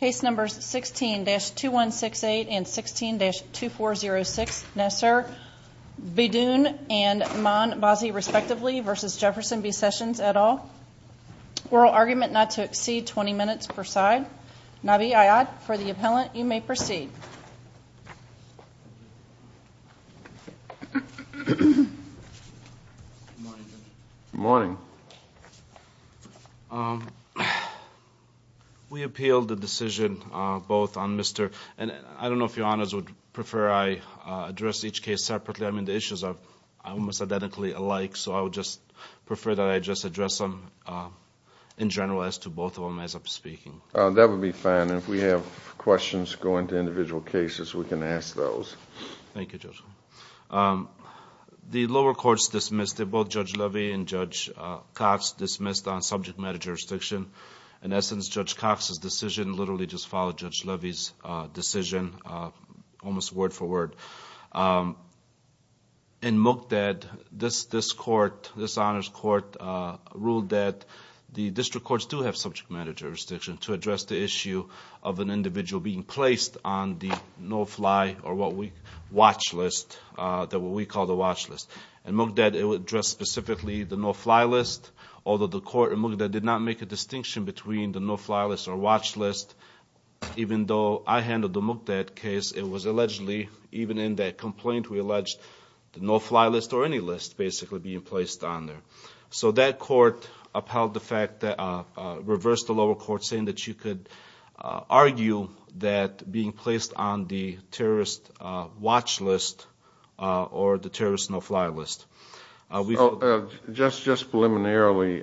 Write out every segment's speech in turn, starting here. Case numbers 16-2168 and 16-2406, Nasser Beydoun and Maan Bazzi, respectively, versus Jefferson B Sessions et al. Oral argument not to exceed 20 minutes per side. Nabi Ayyad, for the appellant, you may proceed. Good morning, Judge. Good morning. We appealed the decision both on Mr. and I don't know if Your Honors would prefer I address each case separately. I mean, the issues are almost identically alike, so I would just prefer that I just address them in general as to both of them as I'm speaking. That would be fine, and if we have questions going to individual cases, we can ask those. Thank you, Judge. The lower courts dismissed it, both Judge Levy and Judge Cox dismissed on subject matter jurisdiction. In essence, Judge Cox's decision literally just followed Judge Levy's decision almost word for word. In Moogdad, this court, this Honors Court, ruled that the district courts do have subject matter jurisdiction to address the issue of an individual being placed on the no-fly or what we watch list, what we call the watch list. In Moogdad, it would address specifically the no-fly list, although the court in Moogdad did not make a distinction between the no-fly list or watch list. Even though I handled the Moogdad case, it was allegedly, even in that complaint, we alleged the no-fly list or any list basically being placed on there. So that court upheld the fact that, reversed the lower court saying that you could argue that being placed on the terrorist watch list or the terrorist no-fly list. Just preliminarily,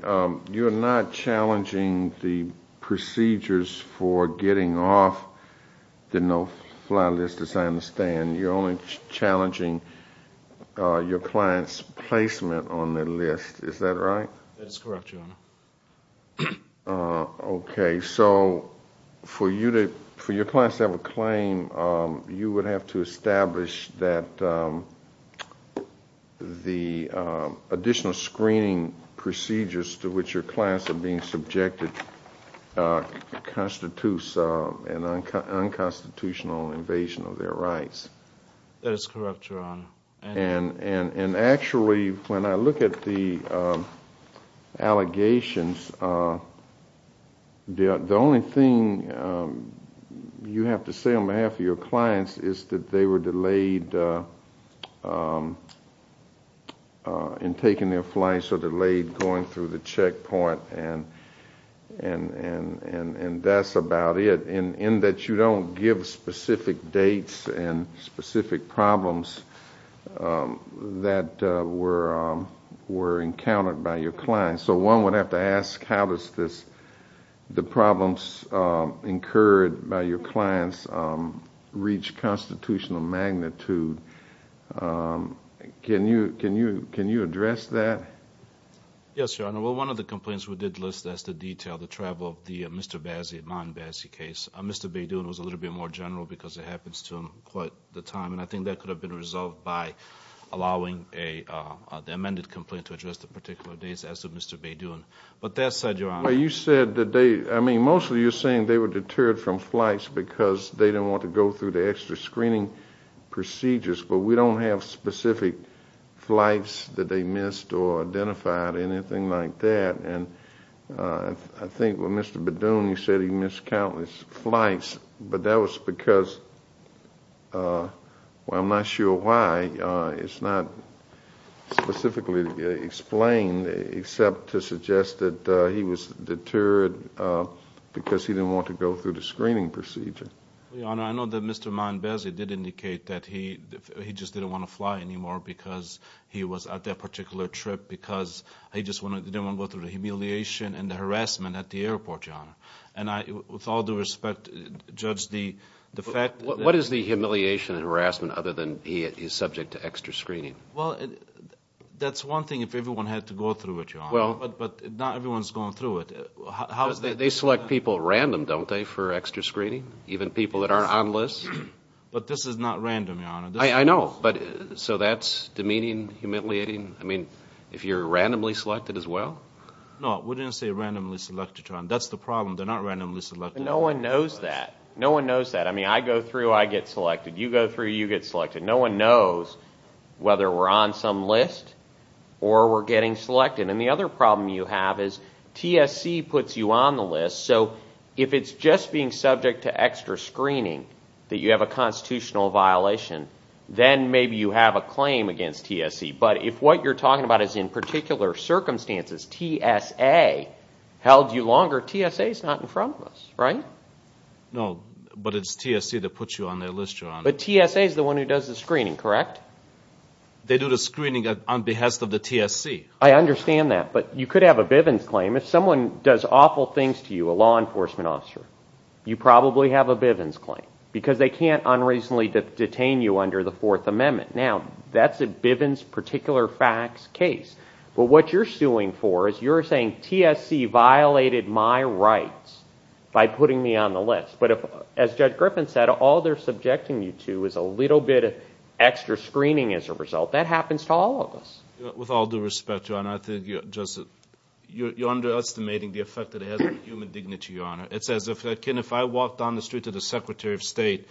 you're not challenging the procedures for getting off the no-fly list, as I understand. You're only challenging your client's placement on the list. Is that right? That's correct, Your Honor. Okay, so for your client to have a claim, you would have to establish that the additional screening procedures to which your clients are being subjected constitutes an unconstitutional invasion of their rights. That is correct, Your Honor. Actually, when I look at the allegations, the only thing you have to say on behalf of your clients is that they were delayed in taking their flights or delayed going through the checkpoint, and that's about it. In that you don't give specific dates and specific problems that were encountered by your clients. So one would have to ask how does the problems incurred by your clients reach constitutional magnitude. Can you address that? Yes, Your Honor. Well, one of the complaints we did list as the detail, the travel of the Mr. Bazzi, Ma'an Bazzi case. Mr. Badoon was a little bit more general because it happens to him quite the time, and I think that could have been resolved by allowing the amended complaint to address the particular dates as to Mr. Badoon. But that said, Your Honor— Well, you said that they—I mean, mostly you're saying they were deterred from flights because they didn't want to go through the extra screening procedures, but we don't have specific flights that they missed or identified or anything like that. And I think when Mr. Badoon, you said he missed countless flights, but that was because—well, I'm not sure why. It's not specifically explained except to suggest that he was deterred because he didn't want to go through the screening procedure. Well, Your Honor, I know that Mr. Ma'an Bazzi did indicate that he just didn't want to fly anymore because he was at that particular trip because he just didn't want to go through the humiliation and the harassment at the airport, Your Honor. And with all due respect, Judge, the fact— What is the humiliation and harassment other than he is subject to extra screening? Well, that's one thing if everyone had to go through it, Your Honor, but not everyone's going through it. They select people random, don't they, for extra screening, even people that aren't on lists? But this is not random, Your Honor. I know, but so that's demeaning, humiliating? I mean, if you're randomly selected as well? No, we didn't say randomly selected, Your Honor. That's the problem. They're not randomly selected. No one knows that. No one knows that. I mean, I go through, I get selected. You go through, you get selected. No one knows whether we're on some list or we're getting selected. And the other problem you have is TSC puts you on the list, so if it's just being subject to extra screening that you have a constitutional violation, then maybe you have a claim against TSC. But if what you're talking about is in particular circumstances, TSA held you longer, TSA's not in front of us, right? No, but it's TSC that puts you on their list, Your Honor. But TSA's the one who does the screening, correct? They do the screening on behalf of the TSC. I understand that, but you could have a Bivens claim. If someone does awful things to you, a law enforcement officer, you probably have a Bivens claim. Because they can't unreasonably detain you under the Fourth Amendment. Now, that's a Bivens particular facts case. But what you're suing for is you're saying TSC violated my rights by putting me on the list. But as Judge Griffin said, all they're subjecting you to is a little bit of extra screening as a result. That happens to all of us. With all due respect, Your Honor, I think you're underestimating the effect that it has on human dignity, Your Honor. It's as if, Ken, if I walk down the street to the Secretary of State,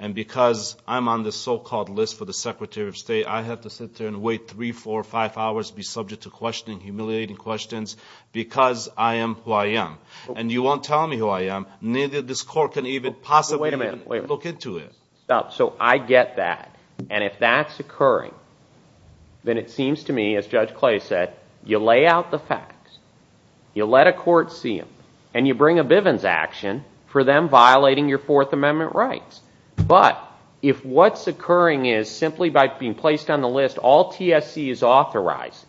and because I'm on this so-called list for the Secretary of State, I have to sit there and wait three, four, five hours to be subject to questioning, humiliating questions, because I am who I am. And you won't tell me who I am. Neither this Court can even possibly look into it. So I get that. And if that's occurring, then it seems to me, as Judge Clay said, you lay out the facts, you let a court see them, and you bring a Bivens action for them violating your Fourth Amendment rights. But if what's occurring is simply by being placed on the list, all TSC is authorized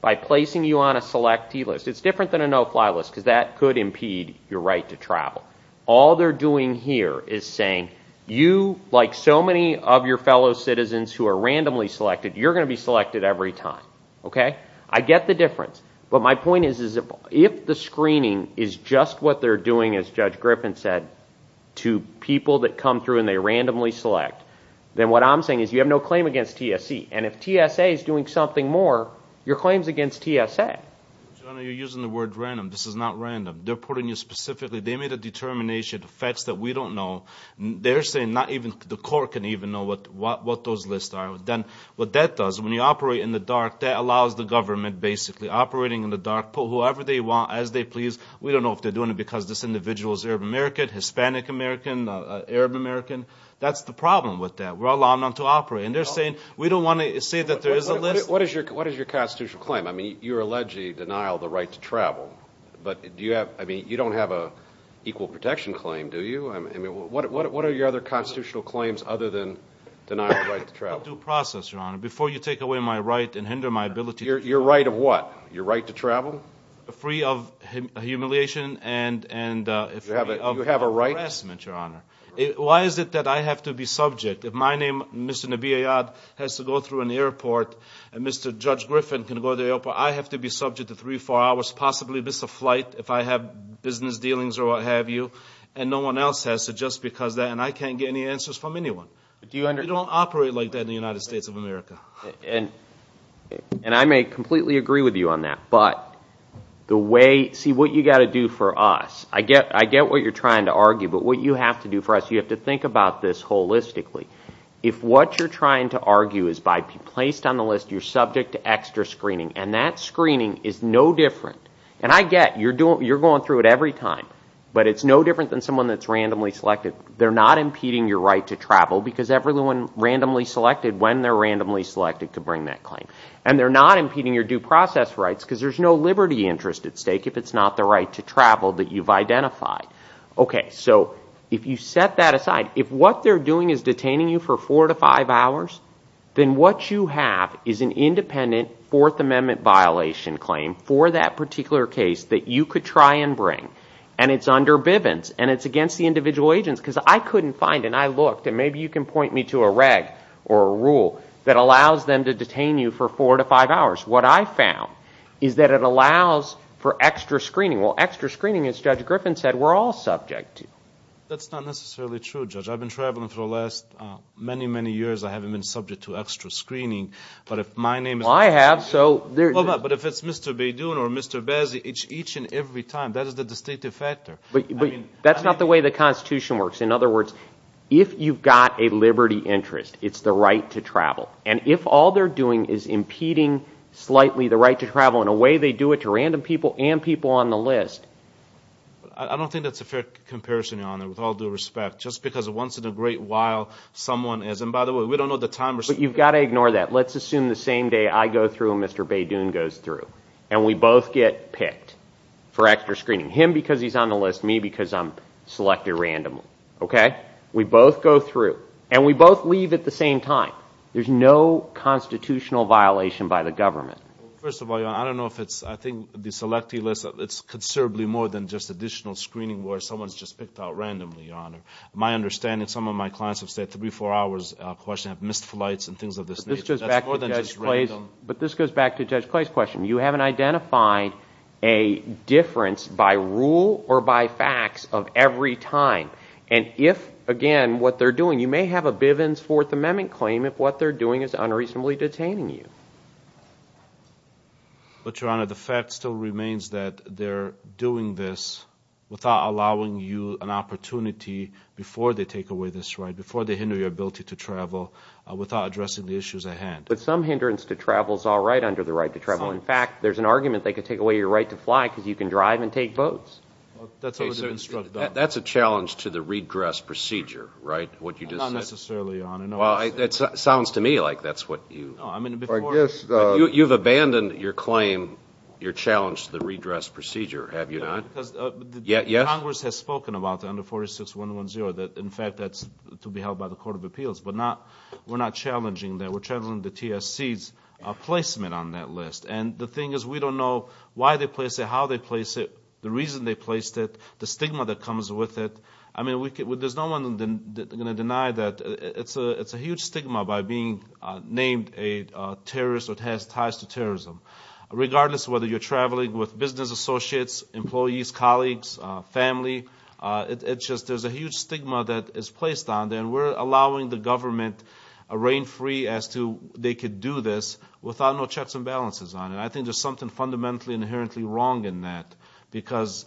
by placing you on a selectee list. It's different than a no-fly list, because that could impede your right to travel. All they're doing here is saying, you, like so many of your fellow citizens who are randomly selected, you're going to be selected every time. I get the difference. But my point is, if the screening is just what they're doing, as Judge Griffin said, to people that come through and they randomly select, then what I'm saying is you have no claim against TSC. And if TSA is doing something more, your claim is against TSA. Jonah, you're using the word random. This is not random. They're putting you specifically – they made a determination, facts that we don't know. They're saying not even – the court can even know what those lists are. What that does, when you operate in the dark, that allows the government basically operating in the dark, put whoever they want as they please. We don't know if they're doing it because this individual is Arab American, Hispanic American, Arab American. That's the problem with that. We're allowing them to operate. And they're saying we don't want to say that there is a list. What is your constitutional claim? I mean, you're allegedly denial of the right to travel. But do you have – I mean, you don't have an equal protection claim, do you? I mean, what are your other constitutional claims other than denial of the right to travel? It's a due process, Your Honor, before you take away my right and hinder my ability to travel. Your right of what? Your right to travel? Free of humiliation and free of harassment, Your Honor. Why is it that I have to be subject? If my name, Mr. Nabi Ayad, has to go through an airport and Mr. Judge Griffin can go to the airport, I have to be subject to three, four hours, possibly miss a flight if I have business dealings or what have you, and no one else has to just because that, and I can't get any answers from anyone. You don't operate like that in the United States of America. And I may completely agree with you on that, but the way – see, what you've got to do for us, I get what you're trying to argue, but what you have to do for us, you have to think about this holistically. If what you're trying to argue is by being placed on the list, you're subject to extra screening, and that screening is no different, and I get you're going through it every time, but it's no different than someone that's randomly selected. They're not impeding your right to travel because everyone randomly selected, when they're randomly selected, could bring that claim. And they're not impeding your due process rights because there's no liberty interest at stake if it's not the right to travel that you've identified. Okay, so if you set that aside, if what they're doing is detaining you for four to five hours, then what you have is an independent Fourth Amendment violation claim for that particular case that you could try and bring, and it's under Bivens, and it's against the individual agents because I couldn't find, and I looked, and maybe you can point me to a reg or a rule that allows them to detain you for four to five hours. What I found is that it allows for extra screening. Well, extra screening, as Judge Griffin said, we're all subject to. That's not necessarily true, Judge. I've been traveling for the last many, many years. I haven't been subject to extra screening. Well, I have. But if it's Mr. Beydoun or Mr. Bazzi, each and every time, that is the distinctive factor. That's not the way the Constitution works. In other words, if you've got a liberty interest, it's the right to travel. And if all they're doing is impeding slightly the right to travel in a way they do it to random people and people on the list. I don't think that's a fair comparison, Your Honor, with all due respect, just because once in a great while someone is. And by the way, we don't know the time. But you've got to ignore that. Let's assume the same day I go through and Mr. Beydoun goes through, and we both get picked for extra screening. Him because he's on the list, me because I'm selected randomly. We both go through, and we both leave at the same time. There's no constitutional violation by the government. Well, first of all, Your Honor, I don't know if it's, I think the selectee list, it's considerably more than just additional screening where someone's just picked out randomly, Your Honor. My understanding, some of my clients have stayed three, four hours, have missed flights and things of this nature. That's more than just random. But this goes back to Judge Clay's question. You haven't identified a difference by rule or by facts of every time. And if, again, what they're doing, you may have a Bivens Fourth Amendment claim if what they're doing is unreasonably detaining you. But, Your Honor, the fact still remains that they're doing this without allowing you an opportunity before they take away this right, before they hinder your ability to travel, without addressing the issues at hand. But some hindrance to travel is all right under the right to travel. In fact, there's an argument they could take away your right to fly because you can drive and take boats. That's a challenge to the redress procedure, right, what you just said? Not necessarily, Your Honor. Well, it sounds to me like that's what you. I guess. You've abandoned your claim, your challenge to the redress procedure, have you not? Yes. Congress has spoken about under 46110 that, in fact, that's to be held by the Court of Appeals. But we're not challenging that. We're challenging the TSC's placement on that list. And the thing is we don't know why they place it, how they place it. The reason they placed it, the stigma that comes with it. I mean, there's no one going to deny that. It's a huge stigma by being named a terrorist or it has ties to terrorism. Regardless of whether you're traveling with business associates, employees, colleagues, family, it's just there's a huge stigma that is placed on there. And we're allowing the government a rein free as to they could do this without no checks and balances on it. And I think there's something fundamentally inherently wrong in that. Because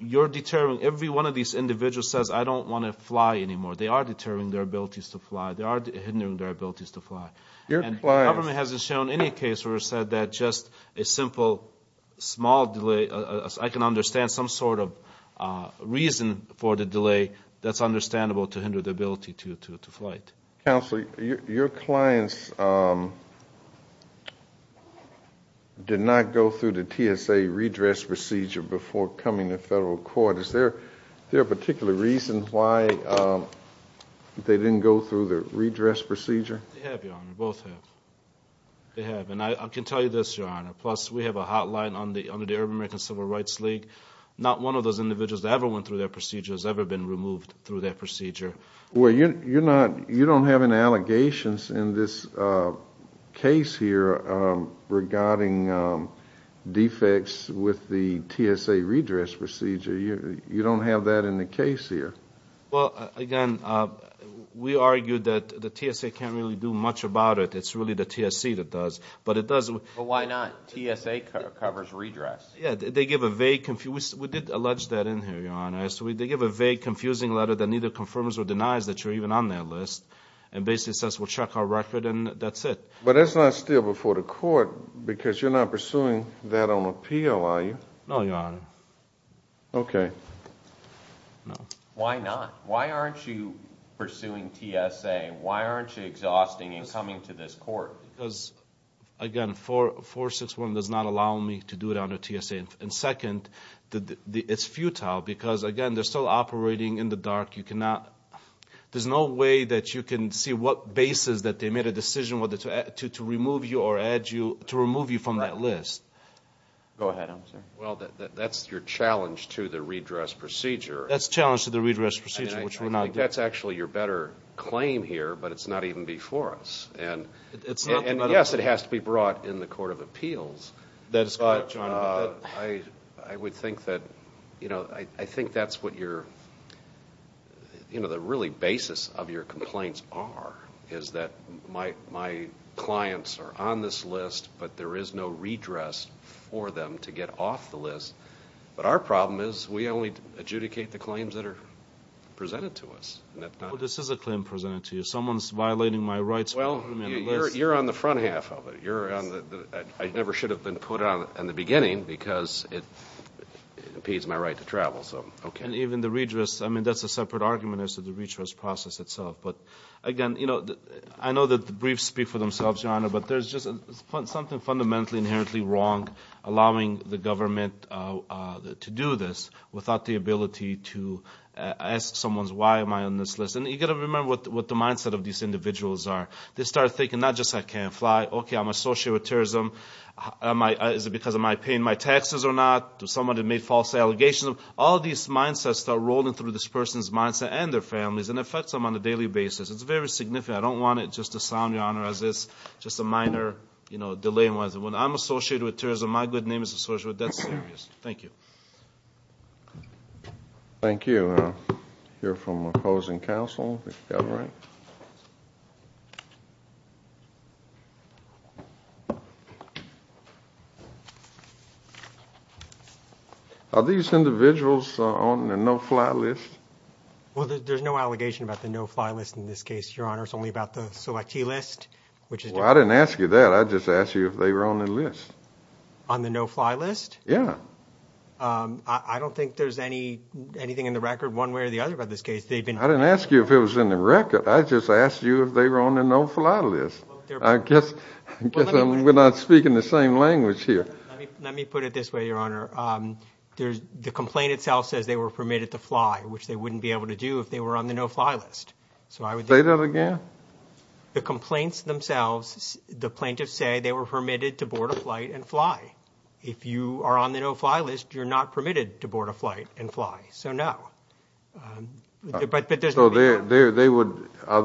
you're deterring. Every one of these individuals says, I don't want to fly anymore. They are deterring their abilities to fly. They are hindering their abilities to fly. And the government hasn't shown any case where it said that just a simple small delay, I can understand some sort of reason for the delay that's understandable to hinder the ability to flight. Counsel, your clients did not go through the TSA redress procedure before coming to federal court. Is there a particular reason why they didn't go through the redress procedure? They have, Your Honor. Both have. They have. And I can tell you this, Your Honor, plus we have a hotline under the Arab American Civil Rights League. Not one of those individuals that ever went through that procedure has ever been removed through that procedure. Well, you're not, you don't have any allegations in this case here regarding defects with the TSA redress procedure. You don't have that in the case here. Well, again, we argue that the TSA can't really do much about it. It's really the TSA that does. But it does. But why not? TSA covers redress. Yeah, they give a vague, we did allege that in here, Your Honor. So they give a vague, confusing letter that neither confirms or denies that you're even on their list and basically says we'll check our record and that's it. But that's not still before the court because you're not pursuing that on appeal, are you? No, Your Honor. Okay. Why not? Why aren't you pursuing TSA? Why aren't you exhausting and coming to this court? Because, again, 461 does not allow me to do it under TSA. And second, it's futile because, again, they're still operating in the dark. You cannot, there's no way that you can see what basis that they made a decision to remove you or add you, to remove you from that list. Go ahead, I'm sorry. Well, that's your challenge to the redress procedure. That's the challenge to the redress procedure, which we're not doing. I think that's actually your better claim here, but it's not even before us. And, yes, it has to be brought in the court of appeals. That is correct, Your Honor. I would think that, you know, I think that's what your, you know, the really basis of your complaints are, is that my clients are on this list but there is no redress for them to get off the list. But our problem is we only adjudicate the claims that are presented to us. Well, this is a claim presented to you. Someone's violating my rights. Well, you're on the front half of it. I never should have been put on it in the beginning because it impedes my right to travel. And even the redress, I mean, that's a separate argument as to the redress process itself. But, again, you know, I know that the briefs speak for themselves, Your Honor, but there's just something fundamentally inherently wrong allowing the government to do this without the ability to ask someone, why am I on this list? And you've got to remember what the mindset of these individuals are. They start thinking not just I can't fly. Okay, I'm associated with terrorism. Is it because I'm paying my taxes or not? Did someone make false allegations? All of these mindsets start rolling through this person's mindset and their family's, and it affects them on a daily basis. It's very significant. I don't want it just to sound, Your Honor, as if it's just a minor, you know, delay. When I'm associated with terrorism, my good name is associated with that serious. Thank you. Thank you. We're going to hear from opposing counsel, if that's all right. Are these individuals on the no-fly list? Well, there's no allegation about the no-fly list in this case, Your Honor. It's only about the selectee list, which is different. Well, I didn't ask you that. I just asked you if they were on the list. On the no-fly list? Yeah. I don't think there's anything in the record one way or the other about this case. I didn't ask you if it was in the record. I just asked you if they were on the no-fly list. I guess we're not speaking the same language here. Let me put it this way, Your Honor. The complaint itself says they were permitted to fly, which they wouldn't be able to do if they were on the no-fly list. Say that again. The complaints themselves, the plaintiffs say they were permitted to board a flight and fly. If you are on the no-fly list, you're not permitted to board a flight and fly. So, no. Are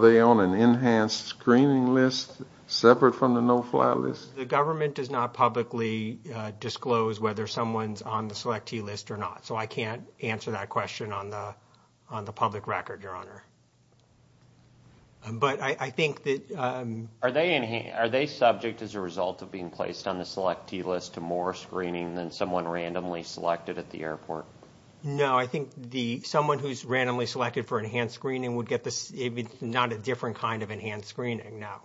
they on an enhanced screening list separate from the no-fly list? The government does not publicly disclose whether someone's on the selectee list or not, so I can't answer that question on the public record, Your Honor. But I think that – Are they subject, as a result of being placed on the selectee list, to more screening than someone randomly selected at the airport? No. I think someone who's randomly selected for enhanced screening would get – it's not a different kind of enhanced screening, no.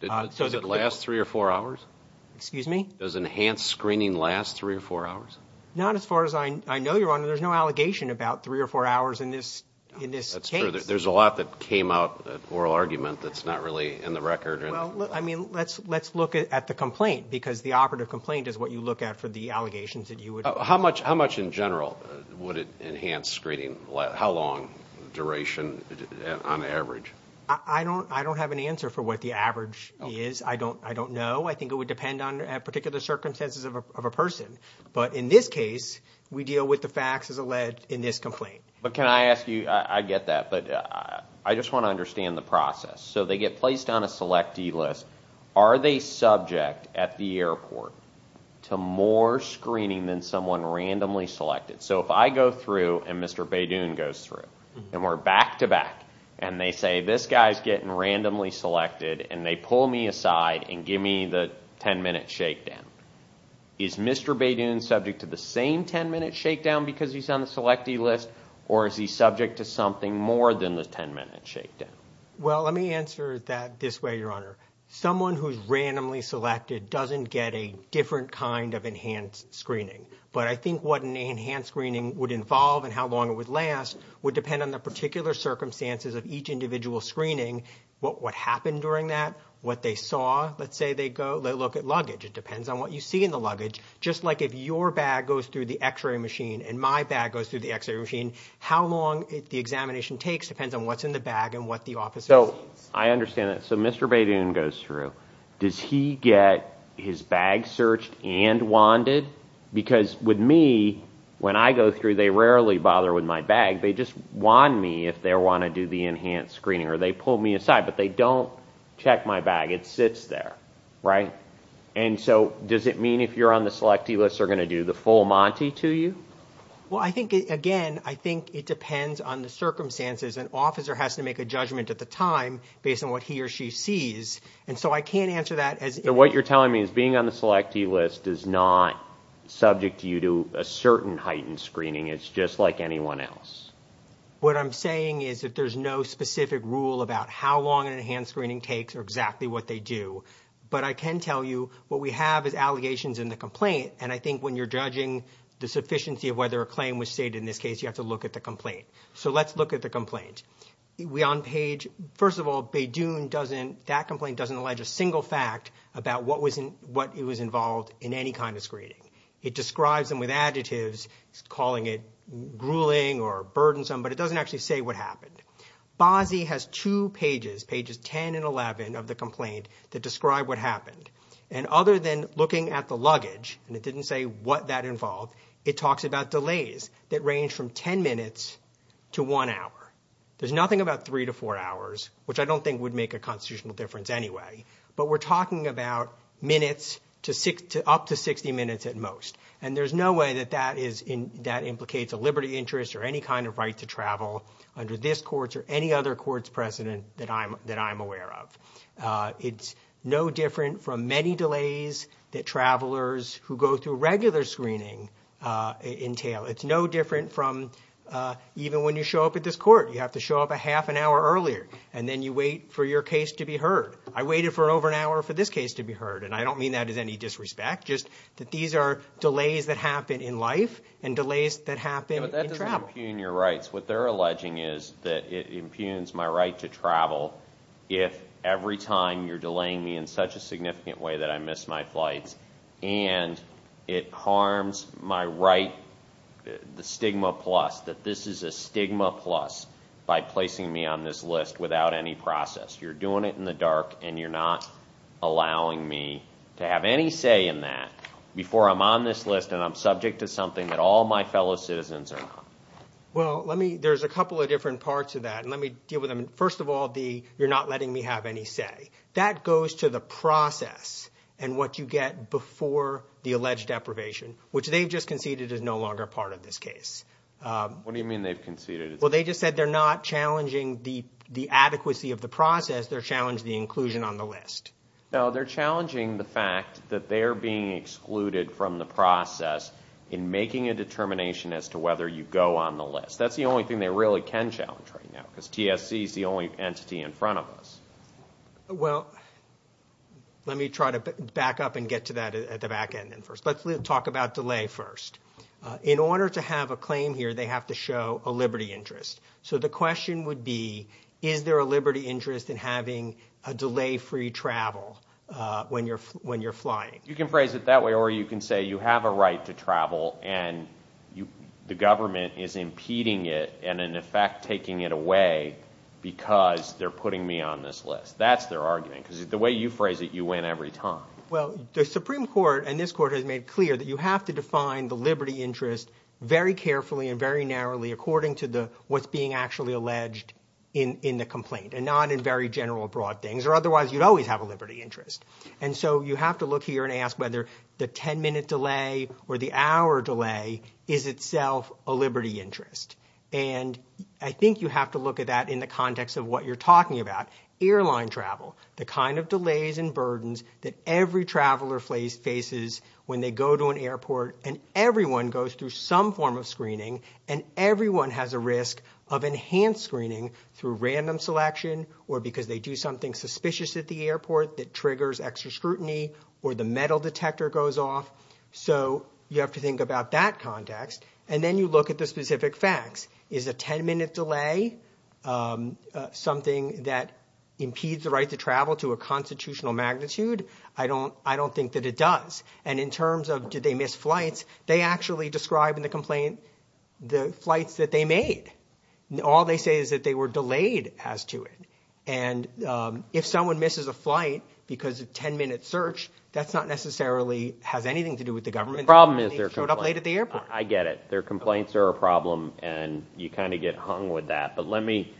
Does it last three or four hours? Excuse me? Does enhanced screening last three or four hours? Not as far as I know, Your Honor. There's no allegation about three or four hours in this case. That's true. There's a lot that came out of oral argument that's not really in the record. Well, I mean, let's look at the complaint, because the operative complaint is what you look at for the allegations that you would – How much in general would it enhance screening? How long duration on average? I don't have an answer for what the average is. I don't know. I think it would depend on particular circumstances of a person. But in this case, we deal with the facts as alleged in this complaint. But can I ask you – I get that. But I just want to understand the process. So they get placed on a selectee list. Are they subject at the airport to more screening than someone randomly selected? So if I go through and Mr. Badoon goes through, and we're back-to-back, and they say this guy's getting randomly selected, and they pull me aside and give me the 10-minute shakedown, is Mr. Badoon subject to the same 10-minute shakedown because he's on the selectee list, or is he subject to something more than the 10-minute shakedown? Well, let me answer that this way, Your Honor. Someone who's randomly selected doesn't get a different kind of enhanced screening. But I think what an enhanced screening would involve and how long it would last would depend on the particular circumstances of each individual screening, what happened during that, what they saw. Let's say they look at luggage. It depends on what you see in the luggage. Just like if your bag goes through the x-ray machine and my bag goes through the x-ray machine, how long the examination takes depends on what's in the bag and what the officer sees. So I understand that. So Mr. Badoon goes through. Does he get his bag searched and wanded? Because with me, when I go through, they rarely bother with my bag. They just wand me if they want to do the enhanced screening, or they pull me aside, but they don't check my bag. It sits there, right? Right. And so does it mean if you're on the selectee list, they're going to do the full monty to you? Well, I think, again, I think it depends on the circumstances. An officer has to make a judgment at the time based on what he or she sees. And so I can't answer that as if you're on the selectee list. So what you're telling me is being on the selectee list does not subject you to a certain heightened screening. It's just like anyone else. What I'm saying is that there's no specific rule about how long an enhanced screening takes or exactly what they do. But I can tell you what we have is allegations in the complaint, and I think when you're judging the sufficiency of whether a claim was stated in this case, you have to look at the complaint. So let's look at the complaint. First of all, Beydoun, that complaint doesn't allege a single fact about what was involved in any kind of screening. It describes them with adjectives, calling it grueling or burdensome, but it doesn't actually say what happened. Bozzi has two pages, pages 10 and 11, of the complaint that describe what happened. And other than looking at the luggage, and it didn't say what that involved, it talks about delays that range from 10 minutes to one hour. There's nothing about three to four hours, which I don't think would make a constitutional difference anyway, but we're talking about minutes up to 60 minutes at most. And there's no way that that implicates a liberty interest or any kind of right to travel under this court or any other court's precedent that I'm aware of. It's no different from many delays that travelers who go through regular screening entail. It's no different from even when you show up at this court, you have to show up a half an hour earlier, and then you wait for your case to be heard. I waited for over an hour for this case to be heard, and I don't mean that as any disrespect, just that these are delays that happen in life and delays that happen in travel. But that doesn't impugn your rights. What they're alleging is that it impugns my right to travel if every time you're delaying me in such a significant way that I miss my flights, and it harms my right, the stigma plus, that this is a stigma plus by placing me on this list without any process. You're doing it in the dark, and you're not allowing me to have any say in that before I'm on this list and I'm subject to something that all my fellow citizens are not. Well, let me – there's a couple of different parts of that, and let me deal with them. First of all, the you're not letting me have any say. That goes to the process and what you get before the alleged deprivation, which they've just conceded is no longer part of this case. What do you mean they've conceded? Well, they just said they're not challenging the adequacy of the process. They're challenging the inclusion on the list. No, they're challenging the fact that they're being excluded from the process in making a determination as to whether you go on the list. That's the only thing they really can challenge right now because TSC is the only entity in front of us. Well, let me try to back up and get to that at the back end first. Let's talk about delay first. In order to have a claim here, they have to show a liberty interest. So the question would be is there a liberty interest in having a delay-free travel when you're flying? You can phrase it that way or you can say you have a right to travel and the government is impeding it and, in effect, taking it away because they're putting me on this list. That's their argument because the way you phrase it, you win every time. Well, the Supreme Court and this court has made it clear that you have to define the liberty interest very carefully and very narrowly according to what's being actually alleged in the complaint and not in very general broad things or otherwise you'd always have a liberty interest. And so you have to look here and ask whether the ten-minute delay or the hour delay is itself a liberty interest. And I think you have to look at that in the context of what you're talking about, airline travel, the kind of delays and burdens that every traveler faces when they go to an airport and everyone goes through some form of screening and everyone has a risk of enhanced screening through random selection or because they do something suspicious at the airport that triggers extra scrutiny or the metal detector goes off. So you have to think about that context and then you look at the specific facts. Is a ten-minute delay something that impedes the right to travel to a constitutional magnitude? I don't think that it does. And in terms of did they miss flights, they actually describe in the complaint the flights that they made. All they say is that they were delayed as to it. And if someone misses a flight because of ten-minute search, that's not necessarily has anything to do with the government. The problem is their complaint. They showed up late at the airport. I get it. Their complaints are a problem and you kind of get hung with that. But let me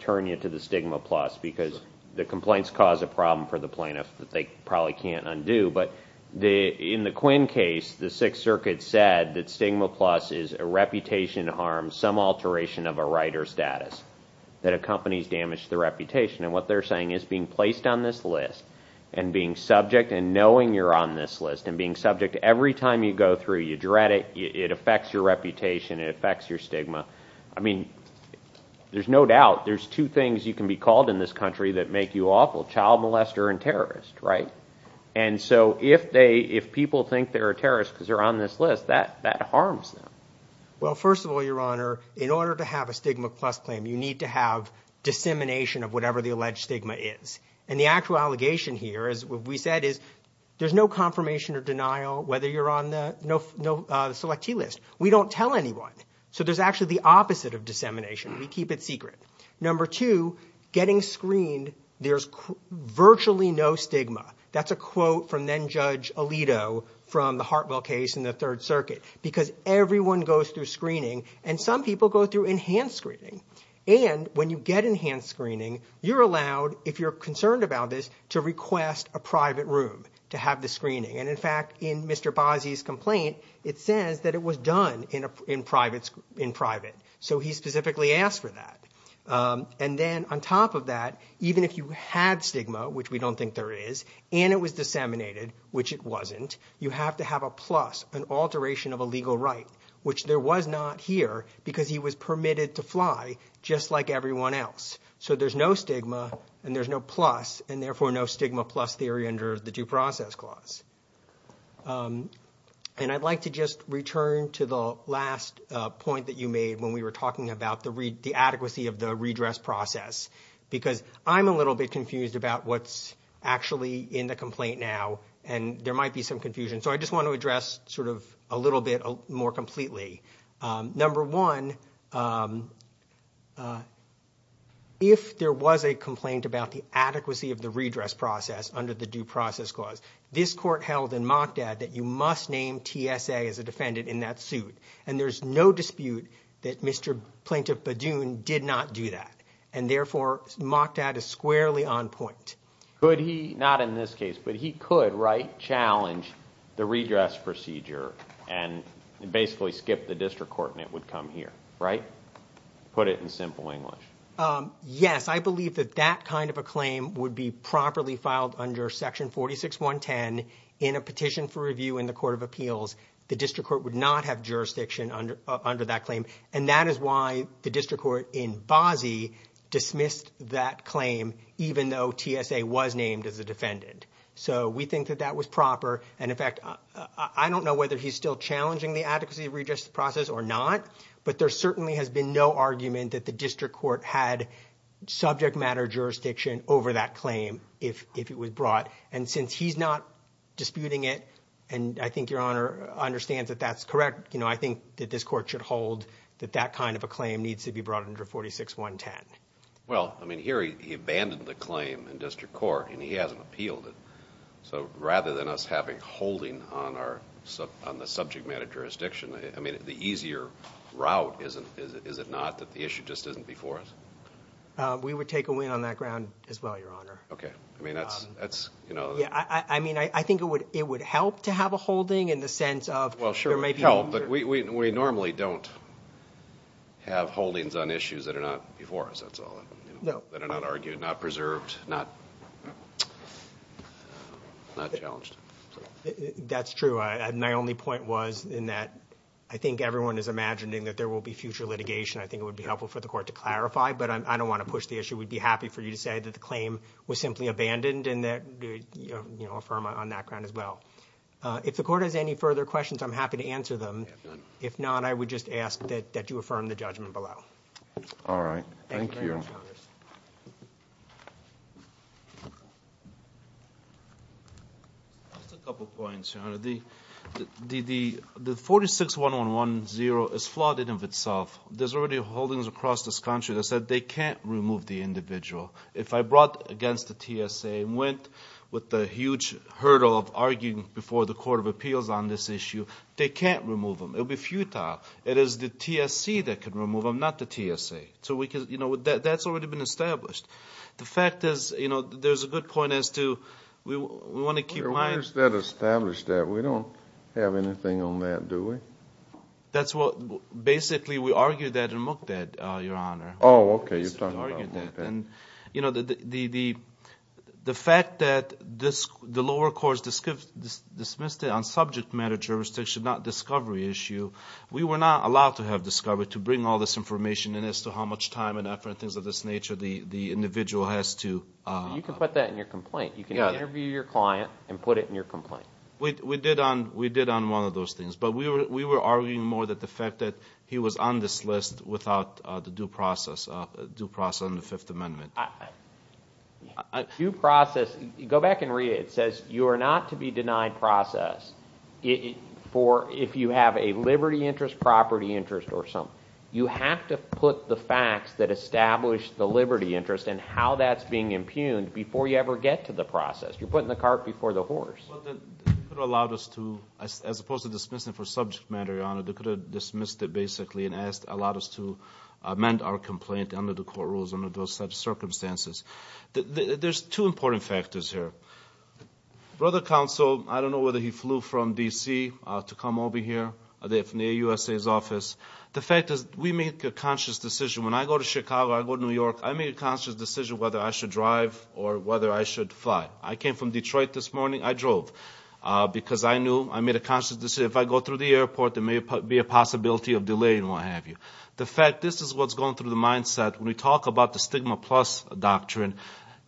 turn you to the stigma plus because the complaints cause a problem for the plaintiff that they probably can't undo. But in the Quinn case, the Sixth Circuit said that stigma plus is a reputation harm, some alteration of a writer's status that accompanies damage to the reputation. And what they're saying is being placed on this list and being subject and knowing you're on this list and being subject every time you go through, you dread it, it affects your reputation, it affects your stigma. I mean, there's no doubt. There's two things you can be called in this country that make you awful, child molester and terrorist, right? And so if people think they're a terrorist because they're on this list, that harms them. Well, first of all, Your Honor, in order to have a stigma plus claim, you need to have dissemination of whatever the alleged stigma is. And the actual allegation here is what we said is there's no confirmation or denial whether you're on the selectee list. We don't tell anyone. So there's actually the opposite of dissemination. We keep it secret. Number two, getting screened, there's virtually no stigma. That's a quote from then-Judge Alito from the Hartwell case in the Third Circuit because everyone goes through screening. And some people go through enhanced screening. And when you get enhanced screening, you're allowed, if you're concerned about this, to request a private room to have the screening. And in fact, in Mr. Bozzi's complaint, it says that it was done in private. So he specifically asked for that. And then on top of that, even if you had stigma, which we don't think there is, and it was disseminated, which it wasn't, you have to have a plus, an alteration of a legal right, which there was not here because he was permitted to fly just like everyone else. So there's no stigma, and there's no plus, and therefore no stigma plus theory under the Due Process Clause. And I'd like to just return to the last point that you made when we were talking about the adequacy of the redress process. Because I'm a little bit confused about what's actually in the complaint now, and there might be some confusion. So I just want to address sort of a little bit more completely. Number one, if there was a complaint about the adequacy of the redress process under the Due Process Clause, this court held in Mockdad that you must name TSA as a defendant in that suit. And there's no dispute that Mr. Plaintiff Badoon did not do that. And therefore, Mockdad is squarely on point. Could he, not in this case, but he could, right, challenge the redress procedure and basically skip the district court and it would come here, right? Put it in simple English. Yes, I believe that that kind of a claim would be properly filed under Section 46.110 in a petition for review in the Court of Appeals. The district court would not have jurisdiction under that claim. And that is why the district court in Bozzi dismissed that claim, even though TSA was named as a defendant. So we think that that was proper. And in fact, I don't know whether he's still challenging the adequacy of redress process or not, but there certainly has been no argument that the district court had subject matter jurisdiction over that claim if it was brought. And since he's not disputing it, and I think Your Honor understands that that's correct, I think that this court should hold that that kind of a claim needs to be brought under 46.110. Well, I mean, here he abandoned the claim in district court and he hasn't appealed it. So rather than us having holding on the subject matter jurisdiction, I mean, the easier route, is it not, that the issue just isn't before us? We would take a win on that ground as well, Your Honor. Okay. I mean, that's, you know. Yeah, I mean, I think it would help to have a holding in the sense of there may be. Well, sure, it would help, but we normally don't have holdings on issues that are not before us. That's all. No. That are not argued, not preserved, not challenged. That's true. And my only point was in that I think everyone is imagining that there will be future litigation. I think it would be helpful for the court to clarify, but I don't want to push the issue. We'd be happy for you to say that the claim was simply abandoned and, you know, affirm on that ground as well. If the court has any further questions, I'm happy to answer them. If not, I would just ask that you affirm the judgment below. All right. Thank you. Thank you very much, Your Honor. Just a couple points, Your Honor. The 461110 is flawed in and of itself. There's already holdings across this country that said they can't remove the individual. If I brought against the TSA and went with the huge hurdle of arguing before the Court of Appeals on this issue, they can't remove them. It would be futile. It is the TSC that can remove them, not the TSA. So, you know, that's already been established. The fact is, you know, there's a good point as to we want to keep lying. Where is that established at? We don't have anything on that, do we? That's what basically we argued that in Mukded, Your Honor. Oh, okay, you've talked about Mukded. You know, the fact that the lower courts dismissed it on subject matter jurisdiction, not discovery issue, we were not allowed to have discovery to bring all this information in as to how much time and effort and things of this nature the individual has to. You can put that in your complaint. You can interview your client and put it in your complaint. We did on one of those things. But we were arguing more that the fact that he was on this list without the due process on the Fifth Amendment. Due process, go back and read it. It says you are not to be denied process if you have a liberty interest, property interest, or something. You have to put the facts that establish the liberty interest and how that's being impugned before you ever get to the process. You're putting the cart before the horse. They could have allowed us to, as opposed to dismissing it for subject matter, Your Honor, they could have dismissed it basically and allowed us to amend our complaint under the court rules under those circumstances. There's two important factors here. Brother Counsel, I don't know whether he flew from D.C. to come over here from the USA's office. The fact is we make a conscious decision. When I go to Chicago, I go to New York, I make a conscious decision whether I should drive or whether I should fly. I came from Detroit this morning. I drove because I knew, I made a conscious decision. If I go through the airport, there may be a possibility of delay and what have you. The fact, this is what's going through the mindset when we talk about the stigma plus doctrine.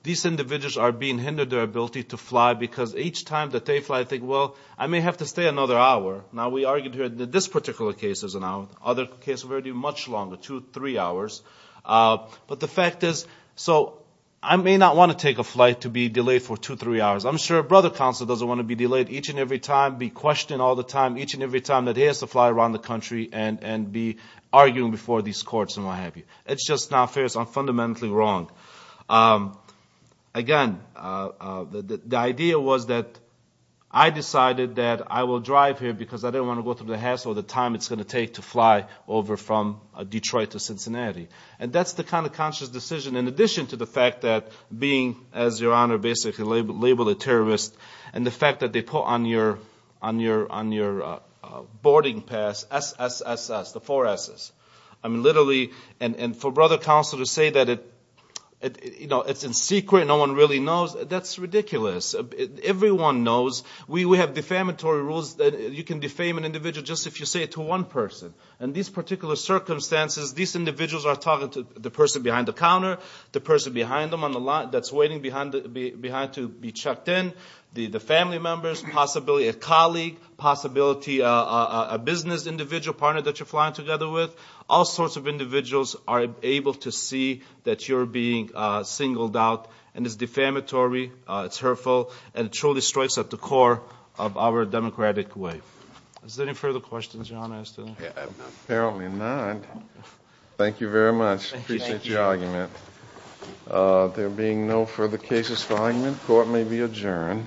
These individuals are being hindered their ability to fly because each time that they fly, they think, well, I may have to stay another hour. Now, we argued here that this particular case is an hour. Other cases will be much longer, two, three hours. But the fact is, so I may not want to take a flight to be delayed for two, three hours. I'm sure Brother Counsel doesn't want to be delayed each and every time, be questioned all the time, each and every time that he has to fly around the country and be arguing before these courts and what have you. It's just not fair. It's fundamentally wrong. Again, the idea was that I decided that I will drive here because I didn't want to go through the hassle of the time it's going to take to fly over from Detroit to Cincinnati. And that's the kind of conscious decision in addition to the fact that being, as Your Honor basically labeled a terrorist, and the fact that they put on your boarding pass SSSS, the four S's. I mean, literally, and for Brother Counsel to say that it's in secret, no one really knows, that's ridiculous. Everyone knows. We have defamatory rules that you can defame an individual just if you say it to one person. In these particular circumstances, these individuals are talking to the person behind the counter, the person behind them on the line that's waiting behind to be checked in, the family members, possibly a colleague, possibly a business individual partner that you're flying together with. All sorts of individuals are able to see that you're being singled out, and it's defamatory, it's hurtful, and it truly strikes at the core of our democratic way. Is there any further questions Your Honor? Apparently not. Thank you very much, appreciate your argument. There being no further cases for argument, court may be adjourned.